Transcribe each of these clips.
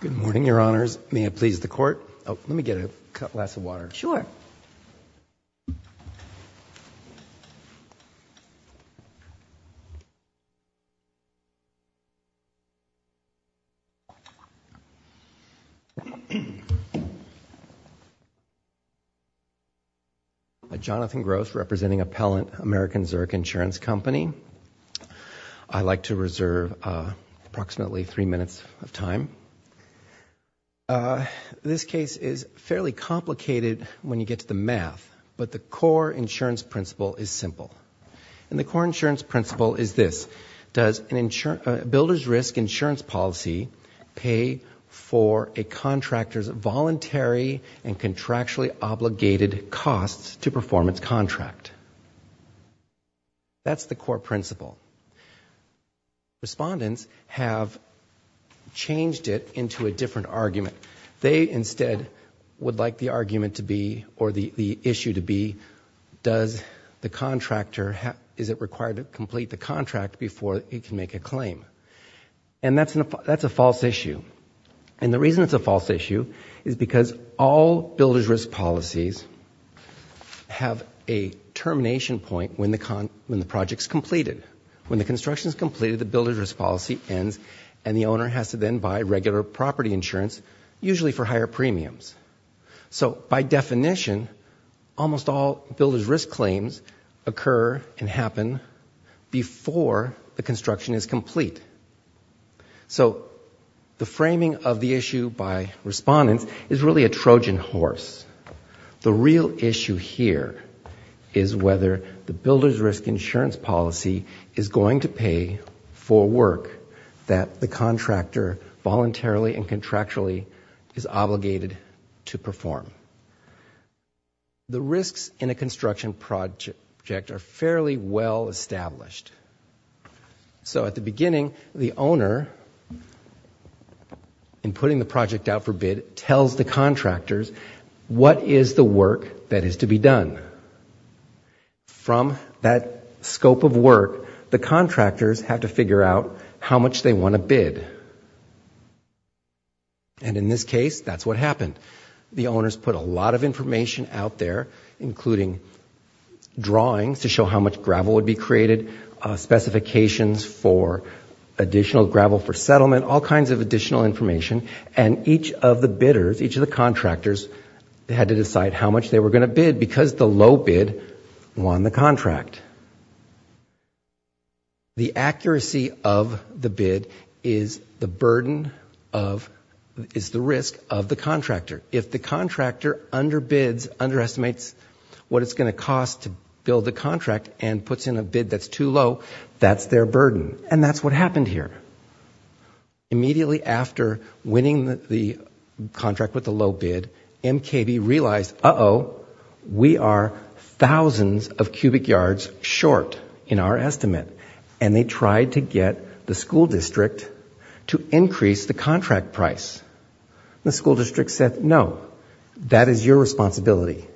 Good morning, Your Honors. May I please the Court? Oh, let me get a glass of water. Sure. Jonathan Gross, representing Appellant, American Zurich Insurance Company. I'd like to reserve approximately three minutes of time. This case is fairly complicated when you get to the math, but the core insurance principle is simple. And the core insurance principle is this. Does a builder's risk insurance policy pay for a contractor's voluntary and contractually obligated costs to perform its contract? That's the core principle. Respondents have changed it into a different argument. They instead would like the argument to be, or the issue to be, does the contractor, is it required to complete the contract before it can make a claim? And that's a false issue. And the reason it's a false issue is because all builder's risk policies have a termination point when the project's completed. When the construction's completed, the builder's risk policy ends, and the owner has to then buy regular property insurance, usually for higher premiums. So by definition, almost all builder's risk claims occur and happen before the construction is complete. So the framing of the issue by respondents is really a Trojan horse. The real issue here is whether the builder's risk insurance policy is going to pay for work that the contractor voluntarily and contractually is obligated to perform. The risks in a construction project are fairly well established. So at the beginning, the owner, in putting the project out for bid, tells the contractors what is the work that is to be done. From that scope of work, the contractors have to figure out how much they want to bid. And in this case, that's what happened. The owners put a lot of information out there, including drawings to show how much gravel would be created, specifications for additional gravel for settlement, all kinds of additional information. And each of the bidders, each of the contractors, had to decide how much they were going to bid because the low bid won the contract. The accuracy of the bid is the burden of, is the risk of the contractor. If the contractor underbids, underestimates what it's going to cost to build the contract and puts in a bid that's too low, that's their burden. And that's what happened here. Immediately after winning the contract with the low bid, MKB realized, uh-oh, we are thousands of cubic yards short in our estimate. And they tried to get the school district to increase the contract price. The school district said, no, that is your responsibility.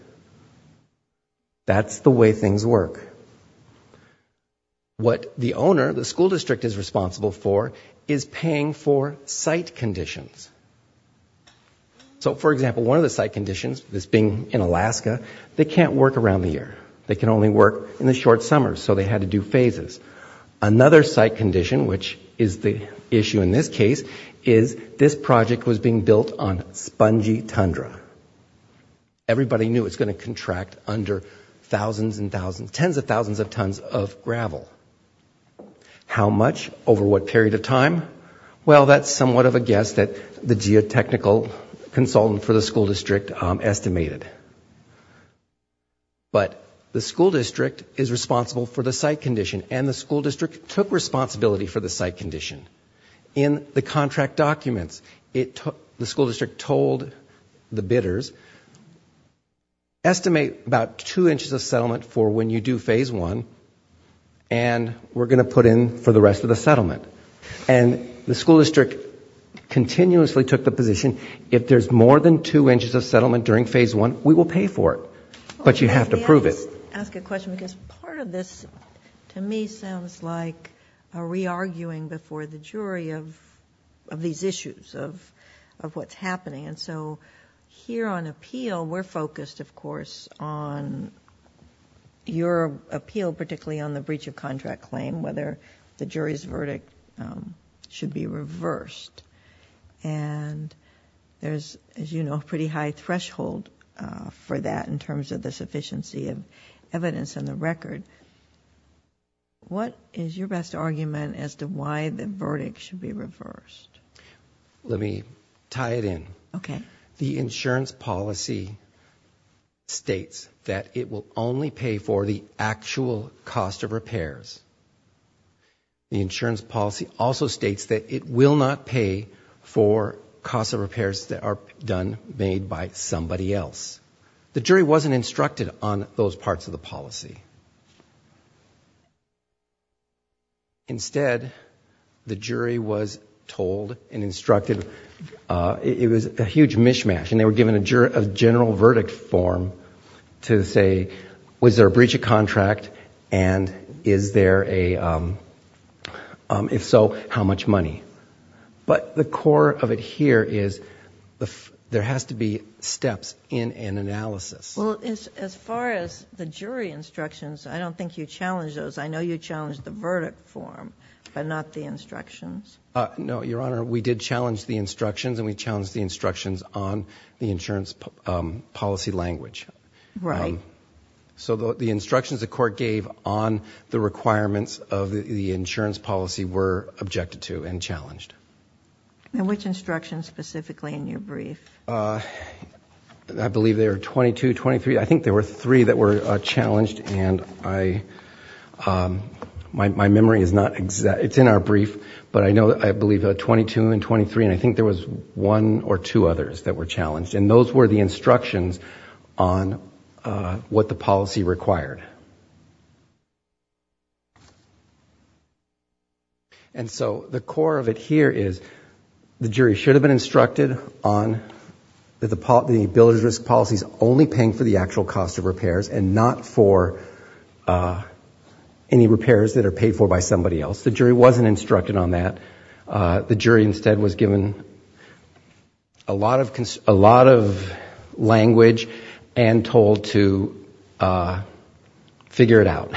That's the way things work. What the owner, the school district is responsible for, is paying for site conditions. So, for example, one of the site conditions, this being in Alaska, they can't work around the year. They can only work in the short summers, so they had to do phases. Another site condition, which is the issue in this case, is this project was being built on spongy tundra. Everybody knew it was going to contract under thousands and thousands, tens of thousands of tons of gravel. How much, over what period of time? Well, that's somewhat of a guess that the geotechnical consultant for the school district estimated. But the school district is responsible for the site condition, and the school district took responsibility for the site condition. In the contract documents, the school district told the bidders, estimate about two inches of settlement for when you do phase one, and we're going to put in for the rest of the settlement. And the school district continuously took the position, if there's more than two inches of settlement during phase one, we will pay for it. But you have to prove it. I'll just ask a question, because part of this, to me, sounds like a re-arguing before the jury of these issues, of what's happening. Here on appeal, we're focused, of course, on your appeal, particularly on the breach of contract claim, whether the jury's verdict should be reversed. And there's, as you know, a pretty high threshold for that in terms of the sufficiency of evidence on the record. What is your best argument as to why the verdict should be reversed? Let me tie it in. The insurance policy states that it will only pay for the actual cost of repairs. The insurance policy also states that it will not pay for costs of repairs that are done, made by somebody else. The jury wasn't instructed on those parts of the policy. Instead, the jury was told and instructed, it was a huge mishmash, and they were given a general verdict form to say, was there a breach of contract, and is there a, if so, how much money? But the core of it here is, there has to be steps in an analysis. Well, as far as the jury instructions, I don't think you challenged those. I know you challenged the verdict form, but not the instructions. No, Your Honor, we did challenge the instructions, and we challenged the instructions on the insurance policy language. So the instructions the court gave on the requirements of the insurance policy were objected to and challenged. Which instructions specifically in your brief? I believe there are 22, 23, I think there were three that were challenged, and my memory is not exact. It's in our brief, but I know, I believe 22 and 23, and I think there was one or two others that were challenged. And those were the instructions on what the policy required. And so the core of it here is, the jury should have been instructed on the ability to risk policies only paying for the actual cost of repairs and not for any repairs that are paid for by somebody else. The jury wasn't instructed on that. The jury instead was given a lot of language and told to figure it out.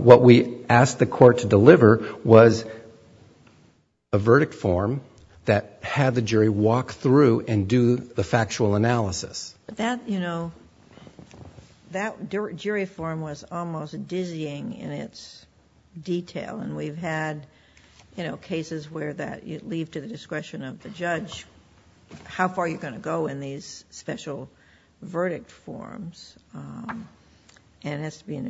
What we asked the court to deliver was a verdict form that had the jury walk through and do the factual analysis. That jury form was almost dizzying in its detail, and we've had cases where you leave to the discretion of the judge how far you're going to go in these special verdict forms, and it has to be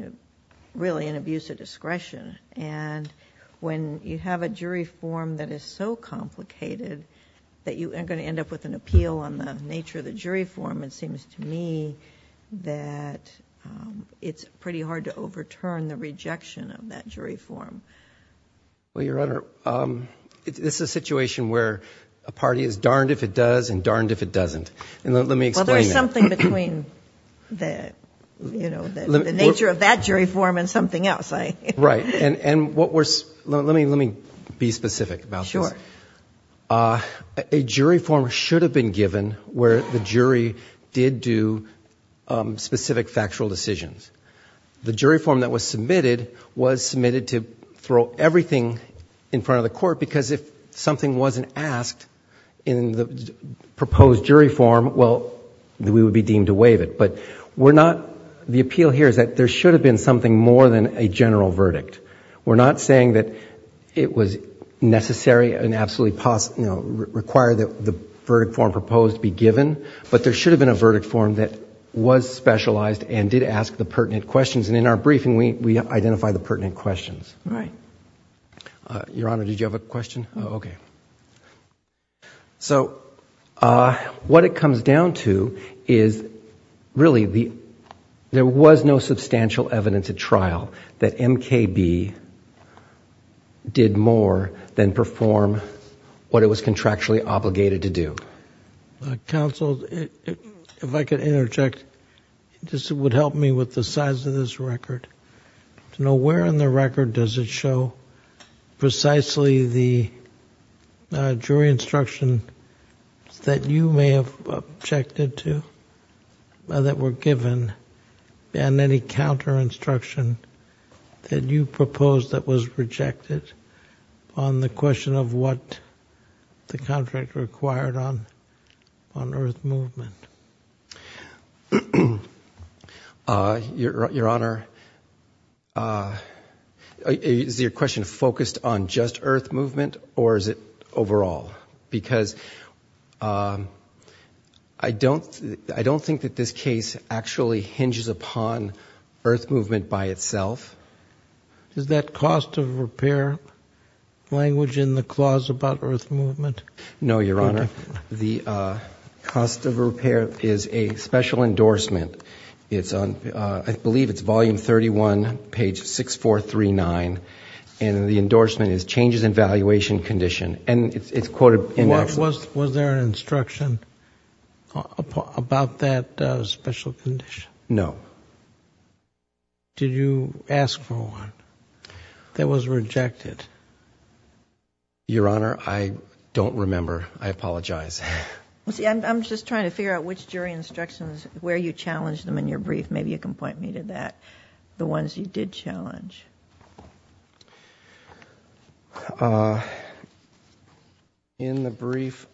really an abuse of discretion. And when you have a jury form that is so complicated that you are going to end up with an appeal on the nature of the jury form, it seems to me that it's pretty hard to overturn the rejection of that jury form. Well, Your Honor, this is a situation where a party is darned if it does and darned if it doesn't. And let me explain that. Well, there is something between the nature of that jury form and something else. Right. And let me be specific about this. A jury form should have been given where the jury did do specific factual decisions. The jury form that was submitted was submitted to throw everything in front of the court because if something wasn't asked in the proposed jury form, well, we would be deemed to waive it. But we're not... the appeal here is that there should have been something more than a general verdict. We're not saying that it was necessary and absolutely required that the verdict form proposed be given, but there should have been a verdict form that was specialized and did ask the pertinent questions. And in our briefing, we identify the pertinent questions. Right. Your Honor, did you have a question? Okay. So, what it comes down to is really the... there was no substantial evidence at trial that MKB did more than perform what it was contractually obligated to do. Counsel, if I could interject, this would help me with the size of this record, to know if there were any jury instructions that you may have objected to that were given and any counter-instruction that you proposed that was rejected on the question of what the contract required on Earth Movement. Your Honor, is your question focused on just Earth Movement or is it overall? Because I don't think that this case actually hinges upon Earth Movement by itself. Is that cost of repair language in the clause about Earth Movement? No, Your Honor. The cost of repair is a special endorsement. It's on, I believe it's volume 31, page 6439, and the endorsement is changes in valuation condition. And it's quoted... Was there an instruction about that special condition? No. Did you ask for one that was rejected? Your Honor, I don't remember. I apologize. I'm just trying to figure out which jury instructions, where you challenged them in your brief. Maybe you can point me to that, the ones you did challenge. In the brief...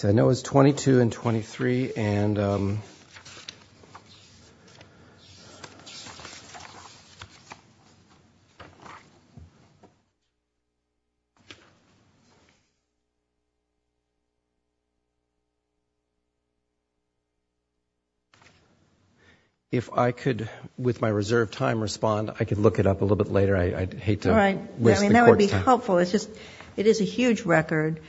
I know it's 22 and 23 and... If I could, with my reserved time, respond, I could look it up a little bit later. I'd hate to waste the court's time. All right. I mean, that would be helpful. It's just, it is a huge record.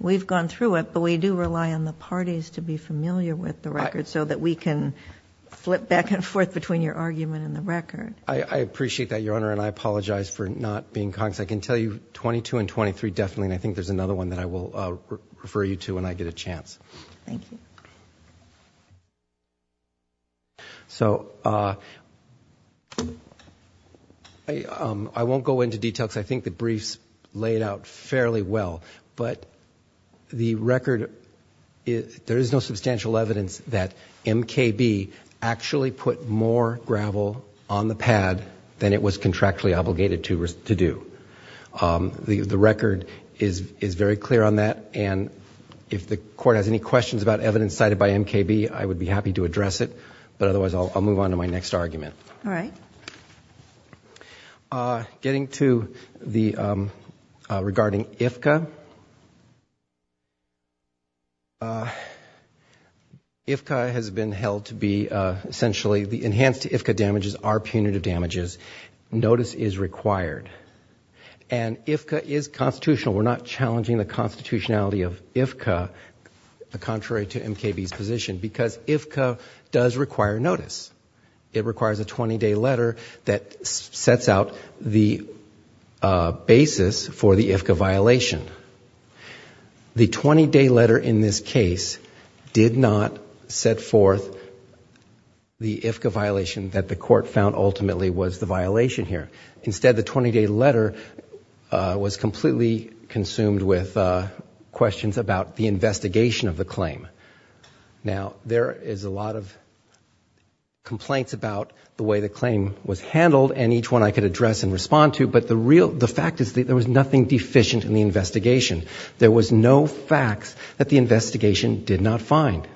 We've gone through it, but we do rely on the parties to be familiar with the record so that we can flip back and forth between your argument and the record. I appreciate that, Your Honor, and I apologize for not being conscious. I can tell you 22 and 23 definitely, and I think there's another one that I will refer you to when I get a chance. Thank you. So, I won't go into details. I think the briefs laid out fairly well, but the record... there is no substantial evidence that MKB actually put more gravel on the pad than it was contractually obligated to do. The record is very clear on that, and if the court has any questions about evidence cited by MKB, I would be happy to address it, but otherwise, I'll move on to my next argument. All right. Getting to the... regarding IFCA, IFCA has been held to be essentially... the enhanced IFCA damages are punitive damages. Notice is required, and IFCA is constitutional. We're not challenging the constitutionality of IFCA, contrary to MKB's position, because IFCA does require notice. It requires a 20-day letter that sets out the basis for the IFCA violation. The 20-day letter in this case did not set forth the IFCA violation that the court found ultimately was the violation here. Instead, the 20-day letter was completely consumed with questions about the investigation of the claim. Now, there is a lot of complaints about the way the claim was handled, and each one I could address and respond to, but the fact is that there was nothing deficient in the investigation. There was no facts that the investigation did not find.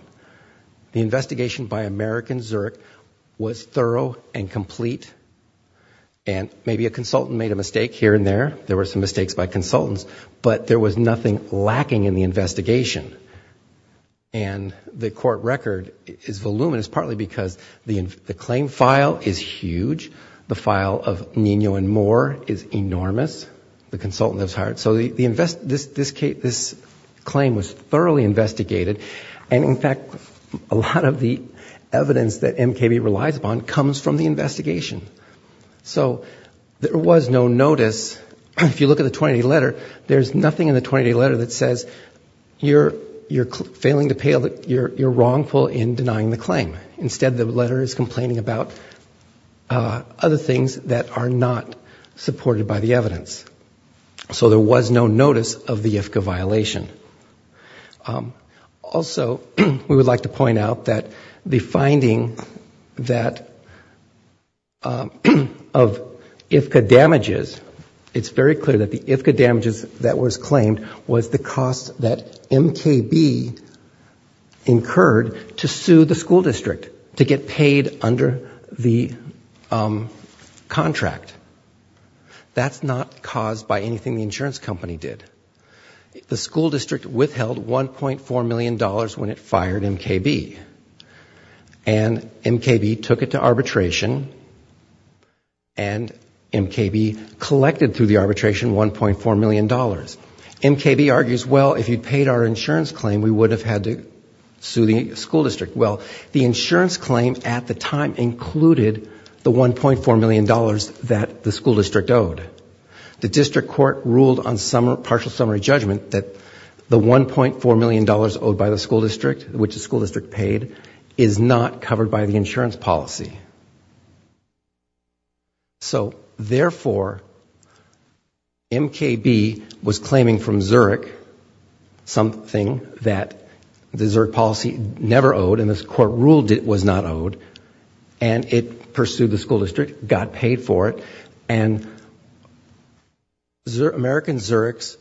The investigation by American Zurich was thorough and complete, and maybe a consultant made a mistake here and there. There were some mistakes by consultants, but there was nothing lacking in the investigation, and the court record is voluminous, partly because the claim file is huge. The file of Nino and Moore is enormous, the consultant that was hired. So this claim was thoroughly investigated, and in fact, a lot of the evidence that MKB relies upon comes from the investigation. So there was no notice. If you look at the 20-day letter, there's nothing in the 20-day letter that says you're failing to pay, you're wrongful in denying the claim. Instead, the letter is complaining about other things that are not supported by the evidence. So there was no notice of the IFCA violation. Also, we would like to point out that the finding that of IFCA damages, it's very clear that the IFCA damages that was claimed was the cost that MKB incurred to sue the school district, to get paid under the contract. That's not caused by anything the insurance company did. The school district withheld $1.4 million when it fired MKB, and MKB took it to arbitration, and MKB collected through the arbitration $1.4 million. MKB argues, well, if you'd paid our insurance claim, we would have had to sue the school district. Well, the insurance claim at the time included the $1.4 million that the school district owed. The district court ruled on partial summary judgment that the $1.4 million owed by the school district, which the school district paid, is not covered by the insurance policy. So, therefore, MKB was claiming from Zurich something that the Zurich policy never owed, and this court ruled it was not owed, and it pursued the school district, got paid for it. And American Zurich's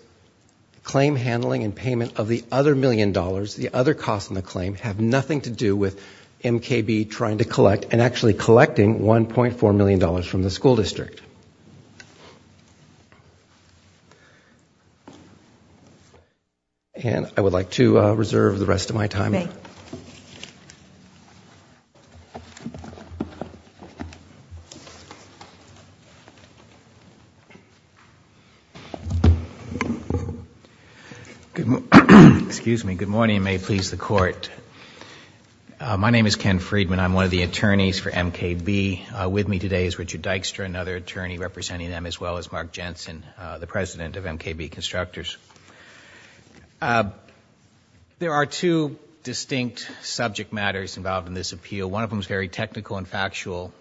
claim handling and payment of the other $1 million, the other cost in the claim, have nothing to do with MKB trying to collect and actually pay the school district, and actually collecting $1.4 million from the school district. And I would like to reserve the rest of my time. Good morning, and may it please the court. My name is Ken Friedman. I'm one of the attorneys for MKB. With me today is Richard Dykstra, another attorney representing them, as well as Mark Jensen, the president of MKB Constructors. There are two distinct subject matters involved in this appeal. One of them is very technical and factual,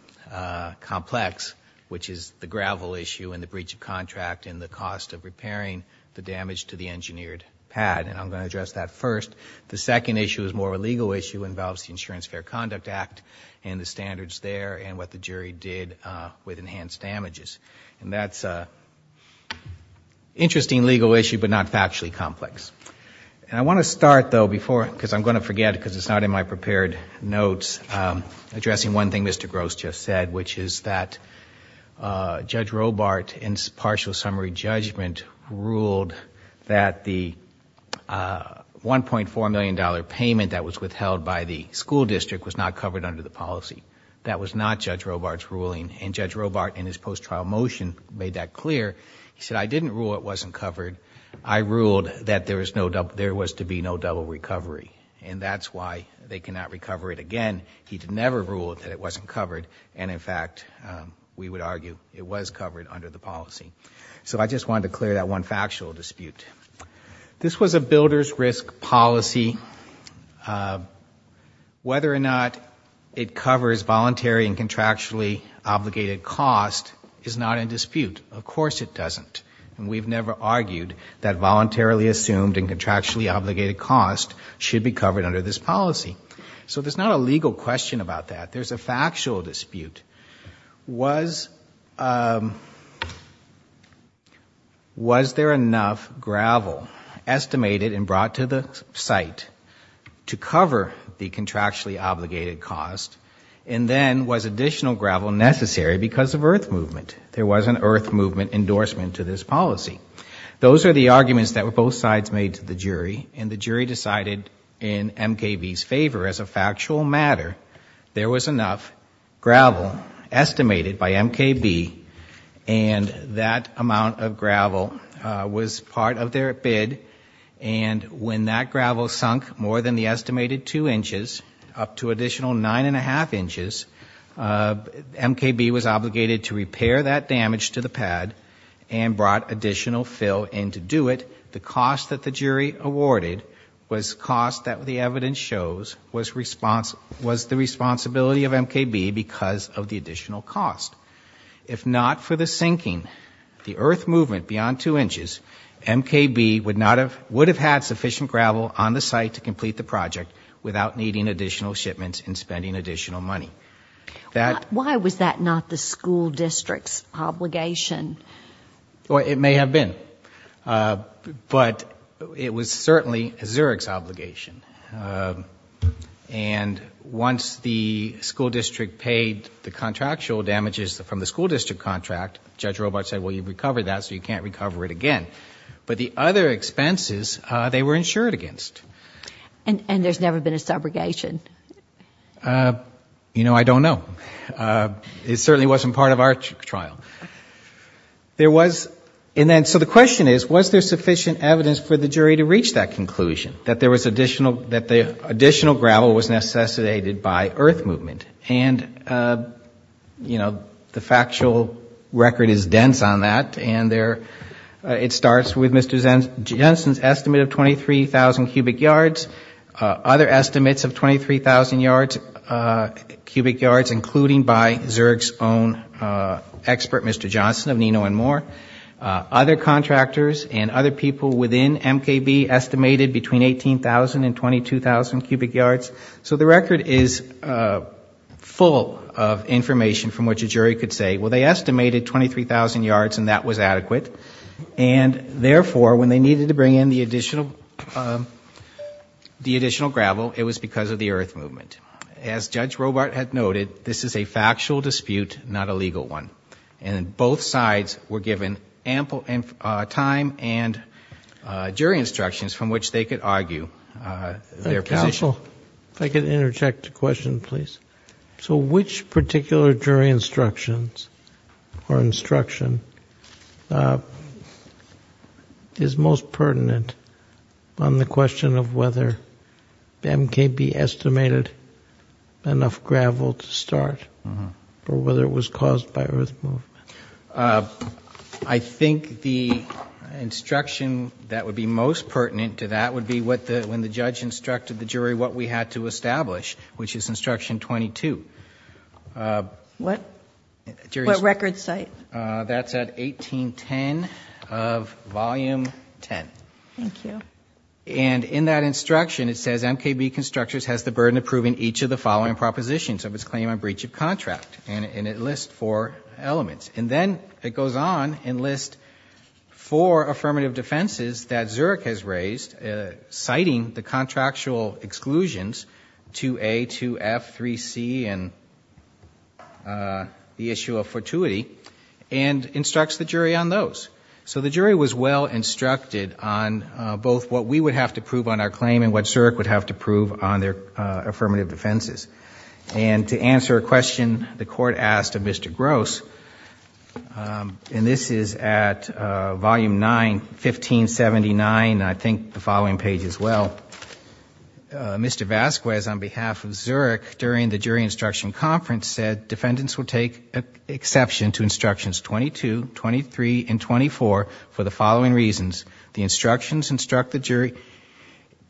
complex, which is the gravel issue and the breach of contract and the cost of repairing the damage to the engineered pad, and I'm going to address that first. The second issue is more of a legal issue, involves the Insurance Fair Conduct Act and the standards there and what the jury did with enhanced damages. And that's an interesting legal issue, but not factually complex. And I want to start, though, before, because I'm going to forget because it's not in my prepared notes, addressing one thing Mr. Gross just said, which is that Judge Robart in partial summary judgment ruled that the $1.4 million payment that was withheld by the school district was not covered under the policy. That was not Judge Robart's ruling, and Judge Robart in his post-trial motion made that clear. He said, I didn't rule it wasn't covered. I ruled that there was to be no double recovery, and that's why they cannot recover it again. He never ruled that it wasn't covered, and in fact, we would argue it was covered under the policy. So I just wanted to clear that one factual dispute. This was a builder's risk policy. Whether or not it covers voluntary and contractually obligated cost is not in dispute. Of course it doesn't, and we've never argued that voluntarily assumed and contractually obligated cost should be covered under this policy. So there's not a legal question about that. There's a factual dispute. Was there enough gravel estimated and brought to the site to cover the contractually obligated cost, and then was additional gravel necessary because of earth movement? There was an earth movement endorsement to this policy. Those are the arguments that were both sides made to the jury, and the jury decided in estimated by MKB, and that amount of gravel was part of their bid, and when that gravel sunk more than the estimated two inches, up to additional nine and a half inches, MKB was obligated to repair that damage to the pad and brought additional fill in to do it. The cost that the jury awarded was cost that the evidence shows was the responsibility of MKB because of the additional cost. If not for the sinking, the earth movement beyond two inches, MKB would have had sufficient gravel on the site to complete the project without needing additional shipments and spending additional money. Why was that not the school district's obligation? It may have been, but it was certainly a Zurich's obligation. Once the school district paid the contractual damages from the school district contract, Judge Robart said, well, you've recovered that, so you can't recover it again. But the other expenses, they were insured against. And there's never been a subrogation? You know, I don't know. It certainly wasn't part of our trial. The question is, was there sufficient evidence for the jury to reach that conclusion, that the additional gravel was necessitated by earth movement? And the factual record is dense on that. It starts with Mr. Jensen's estimate of 23,000 cubic yards. Other estimates of 23,000 cubic yards, including by Zurich's own expert, Mr. Johnson of Nino and More, other contractors and other people within MKB estimated between 18,000 and 22,000 cubic yards. So the record is full of information from which a jury could say, well, they estimated 23,000 yards and that was adequate. And therefore, when they needed to bring in the additional gravel, it was because of the earth movement. As Judge Robart had noted, this is a factual dispute, not a legal one. And both sides were given ample time and jury instructions from which they could argue their position. Counsel, if I could interject a question, please. So which particular jury instructions or instruction is most pertinent on the question of whether MKB estimated enough gravel to start or whether it was caused by earth movement? I think the instruction that would be most pertinent to that would be when the judge instructed the jury what we had to establish, which is instruction 22. What record site? That's at 1810 of volume 10. Thank you. And in that instruction, it says MKB Constructors has the burden of proving each of the following propositions of its claim on breach of contract and it lists four elements. And then it goes on and lists four affirmative defenses that Zurich has raised citing the contractual exclusions 2A, 2F, 3C and the issue of fortuity and instructs the jury on those. So the jury was well instructed on both what we would have to prove on our claim and what Zurich would have to prove on their affirmative defenses. And to answer a question the court asked of Mr. Gross, and this is at volume 9, 1579, I think the following page as well, Mr. Vasquez on behalf of Zurich during the jury instruction conference said defendants would take exception to instructions 22, 23 and 24 for the following reasons. The instructions instruct the jury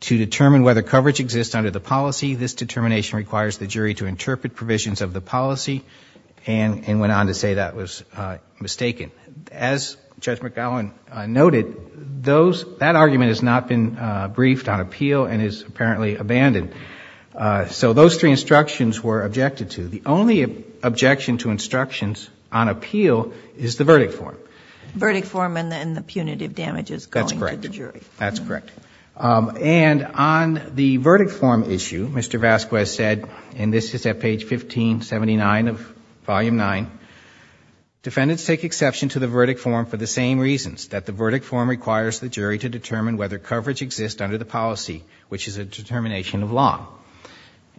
to determine whether coverage exists under the policy. This determination requires the jury to interpret provisions of the policy and went on to say that was mistaken. As Judge McGowan noted, that argument has not been briefed on appeal and is apparently abandoned. And so those three instructions were objected to. The only objection to instructions on appeal is the verdict form. Verdict form and then the punitive damages going to the jury. That's correct. That's correct. And on the verdict form issue, Mr. Vasquez said, and this is at page 1579 of volume 9, defendants take exception to the verdict form for the same reasons, that the verdict form requires the jury to determine whether coverage exists under the policy, which is a determination of law.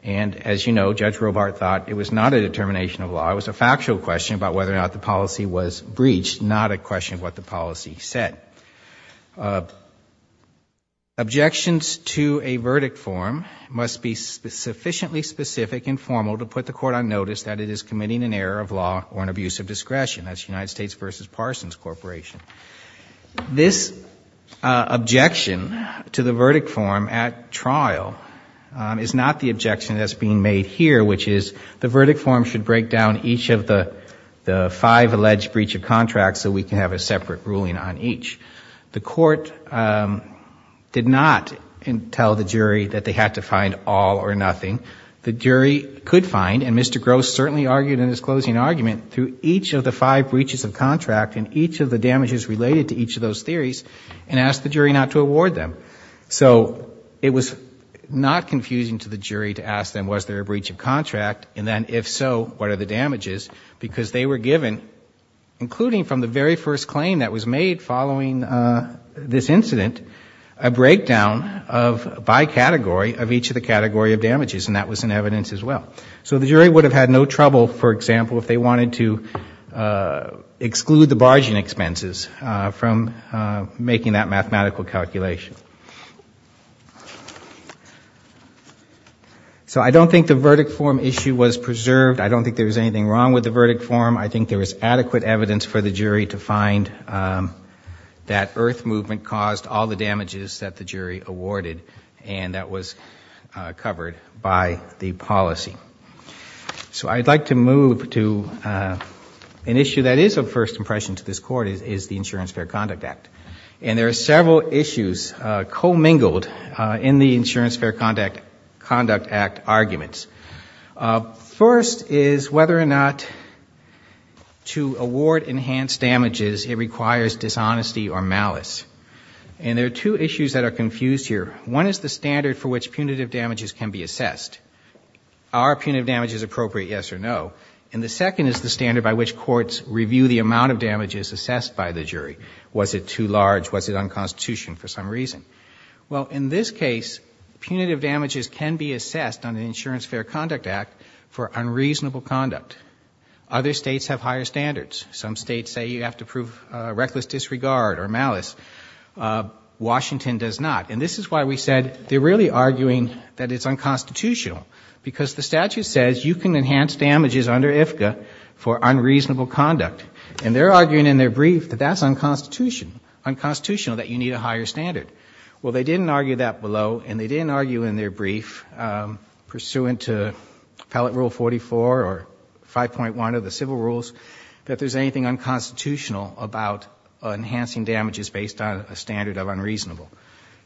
And as you know, Judge Robart thought it was not a determination of law. It was a factual question about whether or not the policy was breached, not a question of what the policy said. Objections to a verdict form must be sufficiently specific and formal to put the court on notice that it is committing an error of law or an abuse of discretion. That's United States v. Parsons Corporation. This objection to the verdict form at trial is not the objection that's being made here, which is the verdict form should break down each of the five alleged breach of contracts so we can have a separate ruling on each. The court did not tell the jury that they had to find all or nothing. The jury could find, and Mr. Gross certainly argued in his closing argument, through each of the five breaches of contract and each of the damages related to each of those theories and ask the jury not to award them. So it was not confusing to the jury to ask them was there a breach of contract and then if so, what are the damages, because they were given, including from the very first claim that was made following this incident, a breakdown by category of each of the category of damages, and that was in evidence as well. So the jury would have had no trouble, for example, if they wanted to exclude the barging expenses from making that mathematical calculation. So I don't think the verdict form issue was preserved. I don't think there was anything wrong with the verdict form. I think there was adequate evidence for the jury to find that earth movement caused all the damages that the jury awarded and that was covered by the policy. So I'd like to move to an issue that is of first impression to this court is the Insurance Fair Conduct Act. And there are several issues co-mingled in the Insurance Fair Conduct Act arguments. First is whether or not to award enhanced damages, it requires dishonesty or malice. And there are two issues that are confused here. One is the standard for which punitive damages can be assessed. Are punitive damages appropriate, yes or no? And the second is the standard by which courts review the amount of damages assessed by the jury. Was it too large? Was it unconstitution for some reason? Well, in this case, punitive damages can be assessed on the Insurance Fair Conduct Act for unreasonable conduct. Other states have higher standards. Some states say you have to prove reckless disregard or malice. Washington does not. And this is why we said they're really arguing that it's unconstitutional. Because the statute says you can enhance damages under IFCA for unreasonable conduct. And they're arguing in their brief that that's unconstitutional, that you need a higher standard. Well, they didn't argue that below and they didn't argue in their brief pursuant to Appellate Rule 44 or 5.1 of the civil rules that there's anything unconstitutional about enhancing damages based on a standard of unreasonable.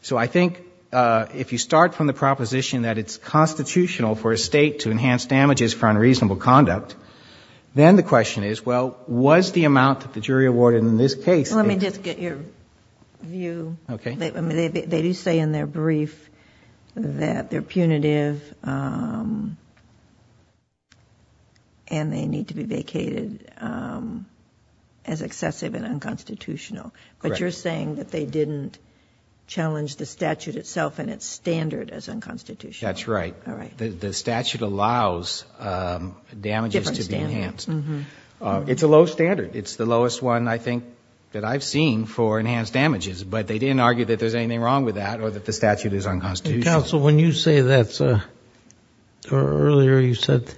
So I think if you start from the proposition that it's constitutional for a state to enhance damages for unreasonable conduct, then the question is, well, was the amount that the jury awarded in this case. Let me just get your view. Okay. So they do say in their brief that they're punitive and they need to be vacated as excessive and unconstitutional. Correct. But you're saying that they didn't challenge the statute itself and its standard as unconstitutional. That's right. All right. The statute allows damages to be enhanced. Different standard. Mm-hmm. It's a low standard. It's the lowest one I think that I've seen for enhanced damages, but they didn't argue that there's anything wrong with that or that the statute is unconstitutional. Counsel, when you say that, or earlier you said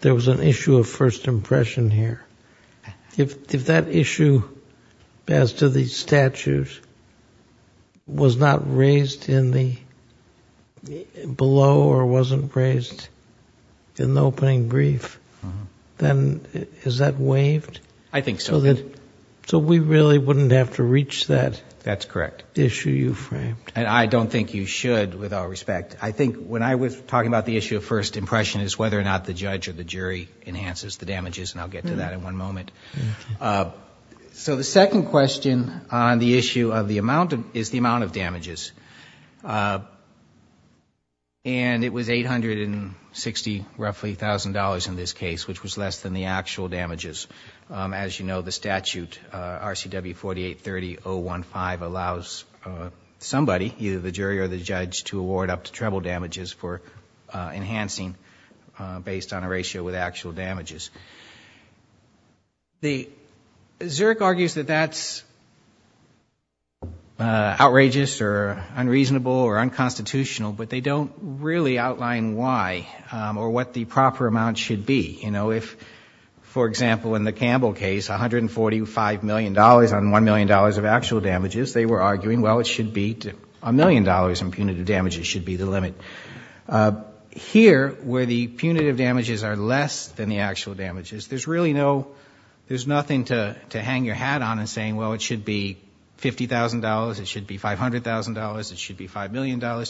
there was an issue of first impression here. If that issue as to the statute was not raised in the below or wasn't raised in the opening brief, then is that waived? I think so. So we really wouldn't have to reach that? That's correct. Issue you framed. I don't think you should, with all respect. I think when I was talking about the issue of first impression is whether or not the judge or the jury enhances the damages, and I'll get to that in one moment. damages. It was $860,000, roughly, in this case, which was less than the actual damages. As you know, the statute, RCW 4830.015, allows somebody, either the jury or the judge, to award up to treble damages for enhancing based on a ratio with actual damages. Zerk argues that that's outrageous or unreasonable or unconstitutional, but they don't really outline why or what the proper amount should be. If, for example, in the Campbell case, $145 million on $1 million of actual damages, they were arguing, well, it should be, $1 million in punitive damages should be the limit. Here, where the punitive damages are less than the actual damages, there's really no, there's nothing to hang your hat on and say, well, it should be $50,000, it should be $500,000, it should be $5 million.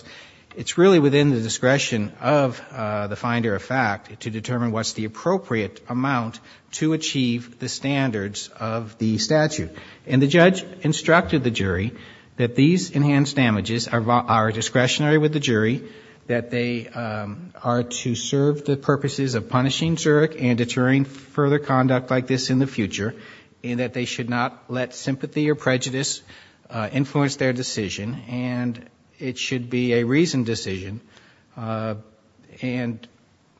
It's really within the discretion of the finder of fact to determine what's the appropriate amount to achieve the standards of the statute. And the judge instructed the jury that these enhanced damages are discretionary with the that they are to serve the purposes of punishing Zerk and deterring further conduct like this in the future, and that they should not let sympathy or prejudice influence their decision, and it should be a reasoned decision. And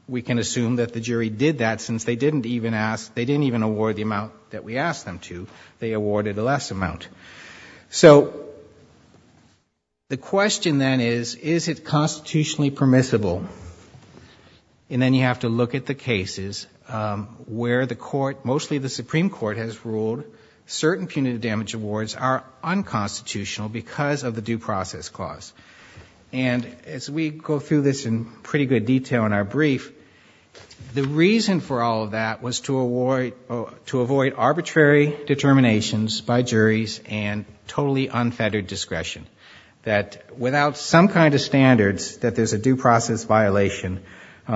we can assume that the jury did that, since they didn't even ask, they didn't even award the amount that we asked them to, they awarded a less amount. So the question then is, is it constitutionally permissible? And then you have to look at the cases where the court, mostly the Supreme Court has ruled certain punitive damage awards are unconstitutional because of the due process clause. And as we go through this in pretty good detail in our brief, the reason for all of that was to avoid arbitrary determinations by juries and totally unfettered discretion. That without some kind of standards, that there's a due process violation,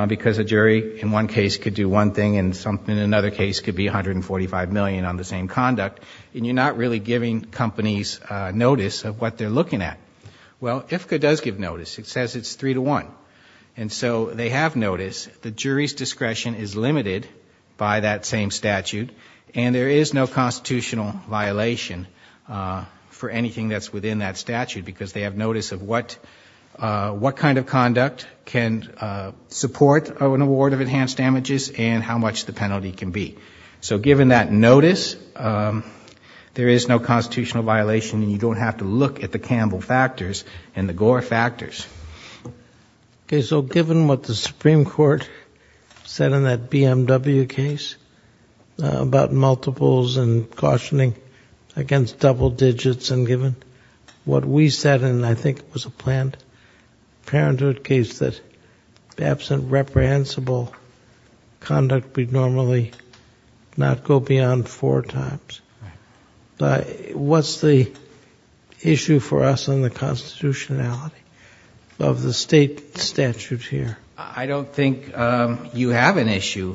because a jury in one case could do one thing and something in another case could be $145 million on the same conduct, and you're not really giving companies notice of what they're looking at. Well, IFCA does give notice. It says it's three to one. And so they have notice. The jury's discretion is limited by that same statute, and there is no constitutional violation for anything that's within that statute, because they have notice of what kind of conduct can support an award of enhanced damages and how much the penalty can be. So given that notice, there is no constitutional violation, and you don't have to look at the Okay, so given what the Supreme Court said in that BMW case about multiples and cautioning against double digits and given what we said, and I think it was a planned parenthood case that absent reprehensible conduct, we'd normally not go beyond four times, what's the issue for us in the constitutionality of the state statute here? I don't think you have an issue.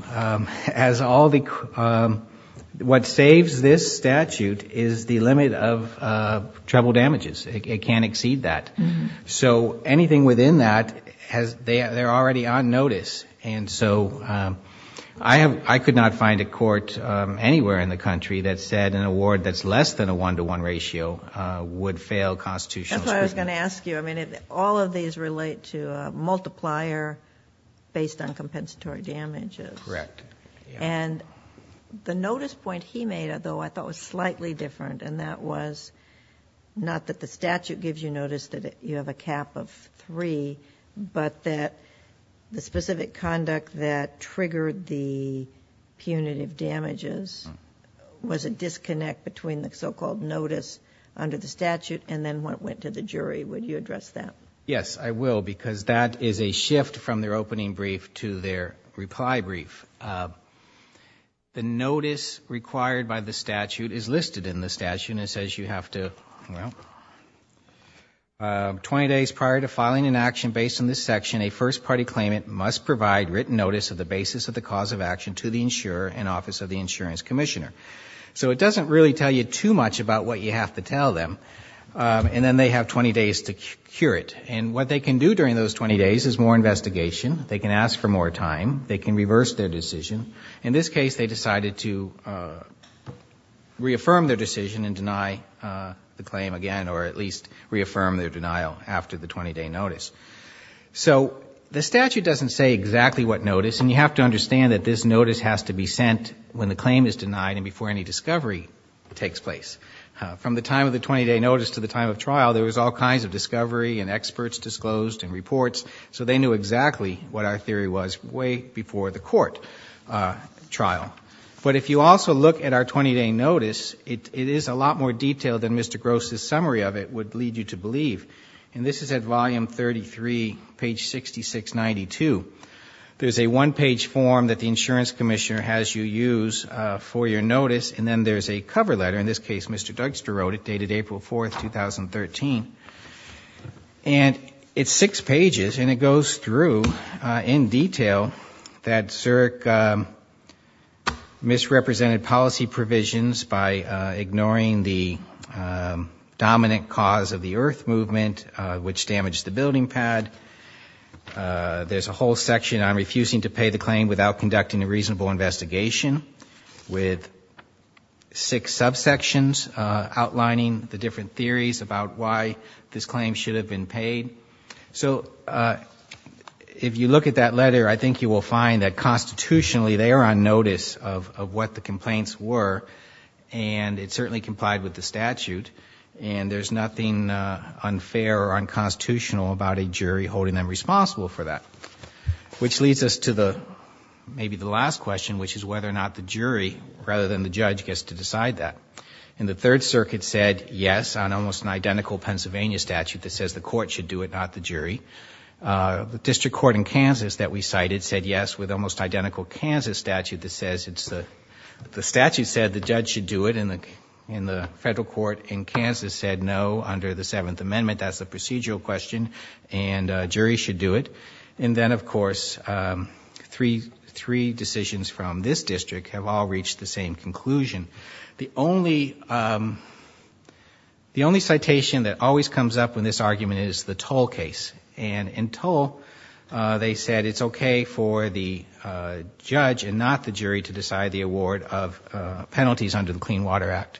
What saves this statute is the limit of treble damages. It can't exceed that. So anything within that, they're already on notice. And so I could not find a court anywhere in the country that said an award that's less than a one-to-one ratio would fail constitutional scrutiny. That's what I was going to ask you. I mean, all of these relate to a multiplier based on compensatory damages. Correct. And the notice point he made, though, I thought was slightly different, and that was not that the statute gives you notice that you have a cap of three, but that the specific conduct that triggered the punitive damages was a disconnect between the so-called notice under the statute and then what went to the jury. Would you address that? Yes, I will, because that is a shift from their opening brief to their reply brief. The notice required by the statute is listed in the statute, and it says you have to... well, 20 days prior to filing an action based on this section, a first-party claimant must provide written notice of the basis of the cause of action to the insurer and office of the insurance commissioner. So it doesn't really tell you too much about what you have to tell them. And then they have 20 days to cure it. And what they can do during those 20 days is more investigation. They can ask for more time. They can reverse their decision. In this case, they decided to reaffirm their decision and deny the claim again, or at least reaffirm their denial after the 20-day notice. So the statute doesn't say exactly what notice, and you have to understand that this notice has to be sent when the claim is denied and before any discovery takes place. From the time of the 20-day notice to the time of trial, there was all kinds of discovery and experts disclosed and reports. So they knew exactly what our theory was way before the court trial. But if you also look at our 20-day notice, it is a lot more detailed than Mr. Gross's summary of it would lead you to believe. And this is at volume 33, page 6692. There's a one-page form that the insurance commissioner has you use for your notice, and then there's a cover letter. In this case, Mr. Dugster wrote it, dated April 4, 2013. And it's six pages, and it goes through in detail that Zurich misrepresented policy provisions by ignoring the dominant cause of the Earth Movement, which damaged the building pad. There's a whole section on refusing to pay the claim without conducting a reasonable investigation with six subsections outlining the different theories about why this claim should have been paid. So if you look at that letter, I think you will find that constitutionally they are on the same page as the complaints were, and it certainly complied with the statute. And there's nothing unfair or unconstitutional about a jury holding them responsible for that. Which leads us to maybe the last question, which is whether or not the jury, rather than the judge, gets to decide that. And the Third Circuit said yes on almost an identical Pennsylvania statute that says the court should do it, not the jury. The district court in Kansas that we cited said yes with almost identical Kansas statute that says the statute said the judge should do it, and the federal court in Kansas said no under the Seventh Amendment, that's a procedural question, and a jury should do it. And then, of course, three decisions from this district have all reached the same conclusion. The only citation that always comes up in this argument is the Toll case. And in Toll, they said it's okay for the judge and not the jury to decide the award of penalties under the Clean Water Act.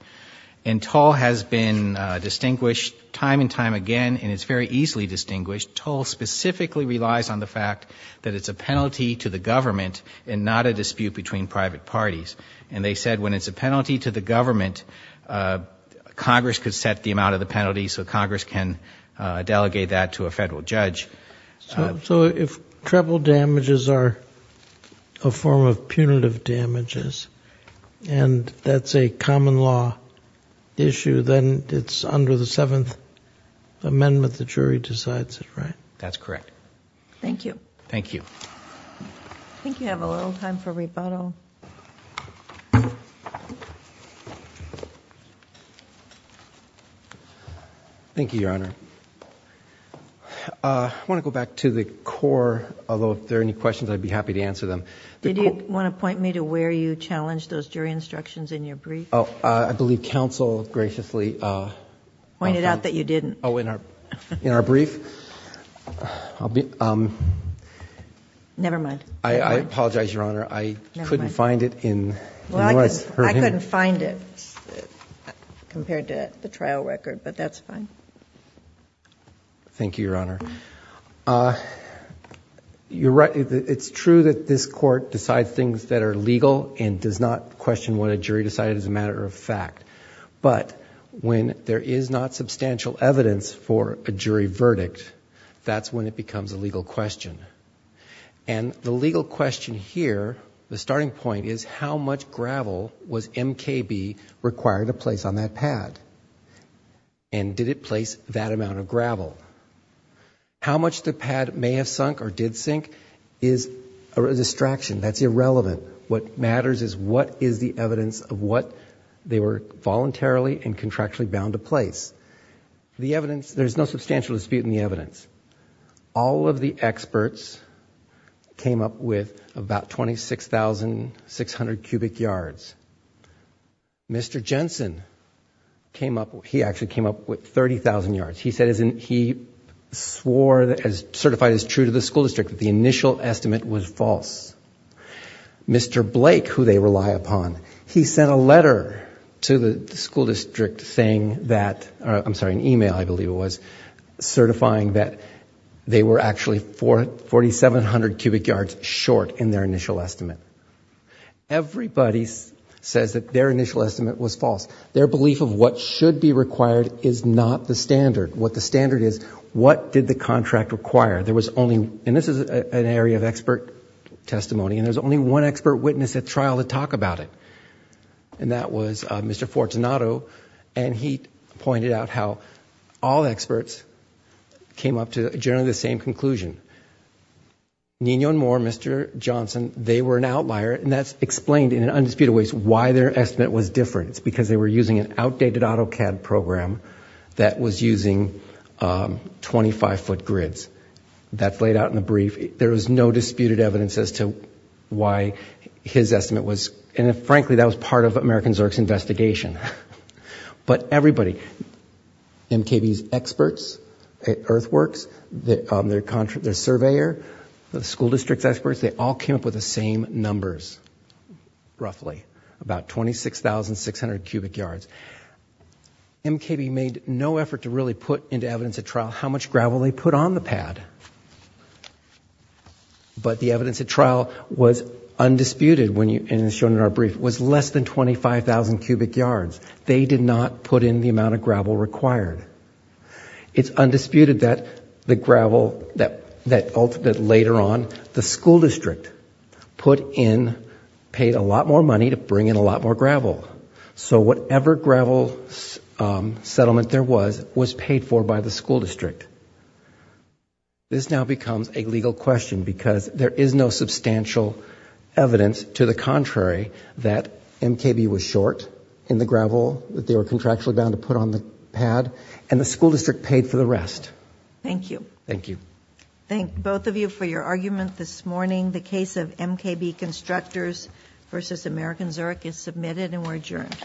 And Toll has been distinguished time and time again, and it's very easily distinguished. Toll specifically relies on the fact that it's a penalty to the government and not a dispute between private parties. And they said when it's a penalty to the government, Congress could set the amount of the penalty so Congress can delegate that to a federal judge. So if treble damages are a form of punitive damages, and that's a common law issue, then it's under the Seventh Amendment, the jury decides it, right? That's correct. Thank you. Thank you. I think we have a little time for rebuttal. Thank you, Your Honor. I want to go back to the core, although if there are any questions, I'd be happy to answer them. Did you want to point me to where you challenged those jury instructions in your brief? Oh, I believe counsel graciously pointed out that you didn't. Oh, in our brief? Never mind. I apologize, Your Honor. I couldn't find it in what I heard. I couldn't find it compared to the trial record, but that's fine. Thank you, Your Honor. It's true that this Court decides things that are legal and does not question what a jury decided as a matter of fact. But when there is not substantial evidence for a jury verdict, that's when it becomes a legal question. And the legal question here, the starting point, is how much gravel was MKB required to place on that pad? And did it place that amount of gravel? How much the pad may have sunk or did sink is a distraction. That's irrelevant. What matters is what is the evidence of what they were voluntarily and contractually bound to place. The evidence, there's no substantial dispute in the evidence. All of the experts came up with about 26,600 cubic yards. Mr. Jensen, he actually came up with 30,000 yards. He said he swore, certified as true to the school district, that the initial estimate was false. Mr. Blake, who they rely upon, he sent a letter to the school district saying that... I'm they were actually 4,700 cubic yards short in their initial estimate. Everybody says that their initial estimate was false. Their belief of what should be required is not the standard. What the standard is, what did the contract require? There was only... and this is an area of expert testimony, and there's only one expert witness at trial to talk about it, and that was Mr. Fortunato. He pointed out how all experts came up to generally the same conclusion. Nino and Moore, Mr. Johnson, they were an outlier, and that's explained in undisputed ways why their estimate was different. It's because they were using an outdated AutoCAD program that was using 25-foot grids. That's laid out in the brief. There was no disputed evidence as to why his estimate was... and frankly, that was part of American Zerg's investigation. But everybody, MKB's experts at Earthworks, their surveyor, the school district's experts, they all came up with the same numbers, roughly, about 26,600 cubic yards. MKB made no effort to really put into evidence at trial how much gravel they put on the pad, but the evidence at trial was undisputed and shown in our brief, was less than 25,000 cubic yards. They did not put in the amount of gravel required. It's undisputed that the gravel that ultimately, later on, the school district put in paid a lot more money to bring in a lot more gravel. So whatever gravel settlement there was, was paid for by the school district. This now becomes a legal question because there is no substantial evidence, to the contrary, that MKB was short in the gravel that they were contractually bound to put on the pad and the school district paid for the rest. Thank you. Thank you. Thank both of you for your argument this morning. The case of MKB Constructors v. American Zurich is submitted and we're adjourned.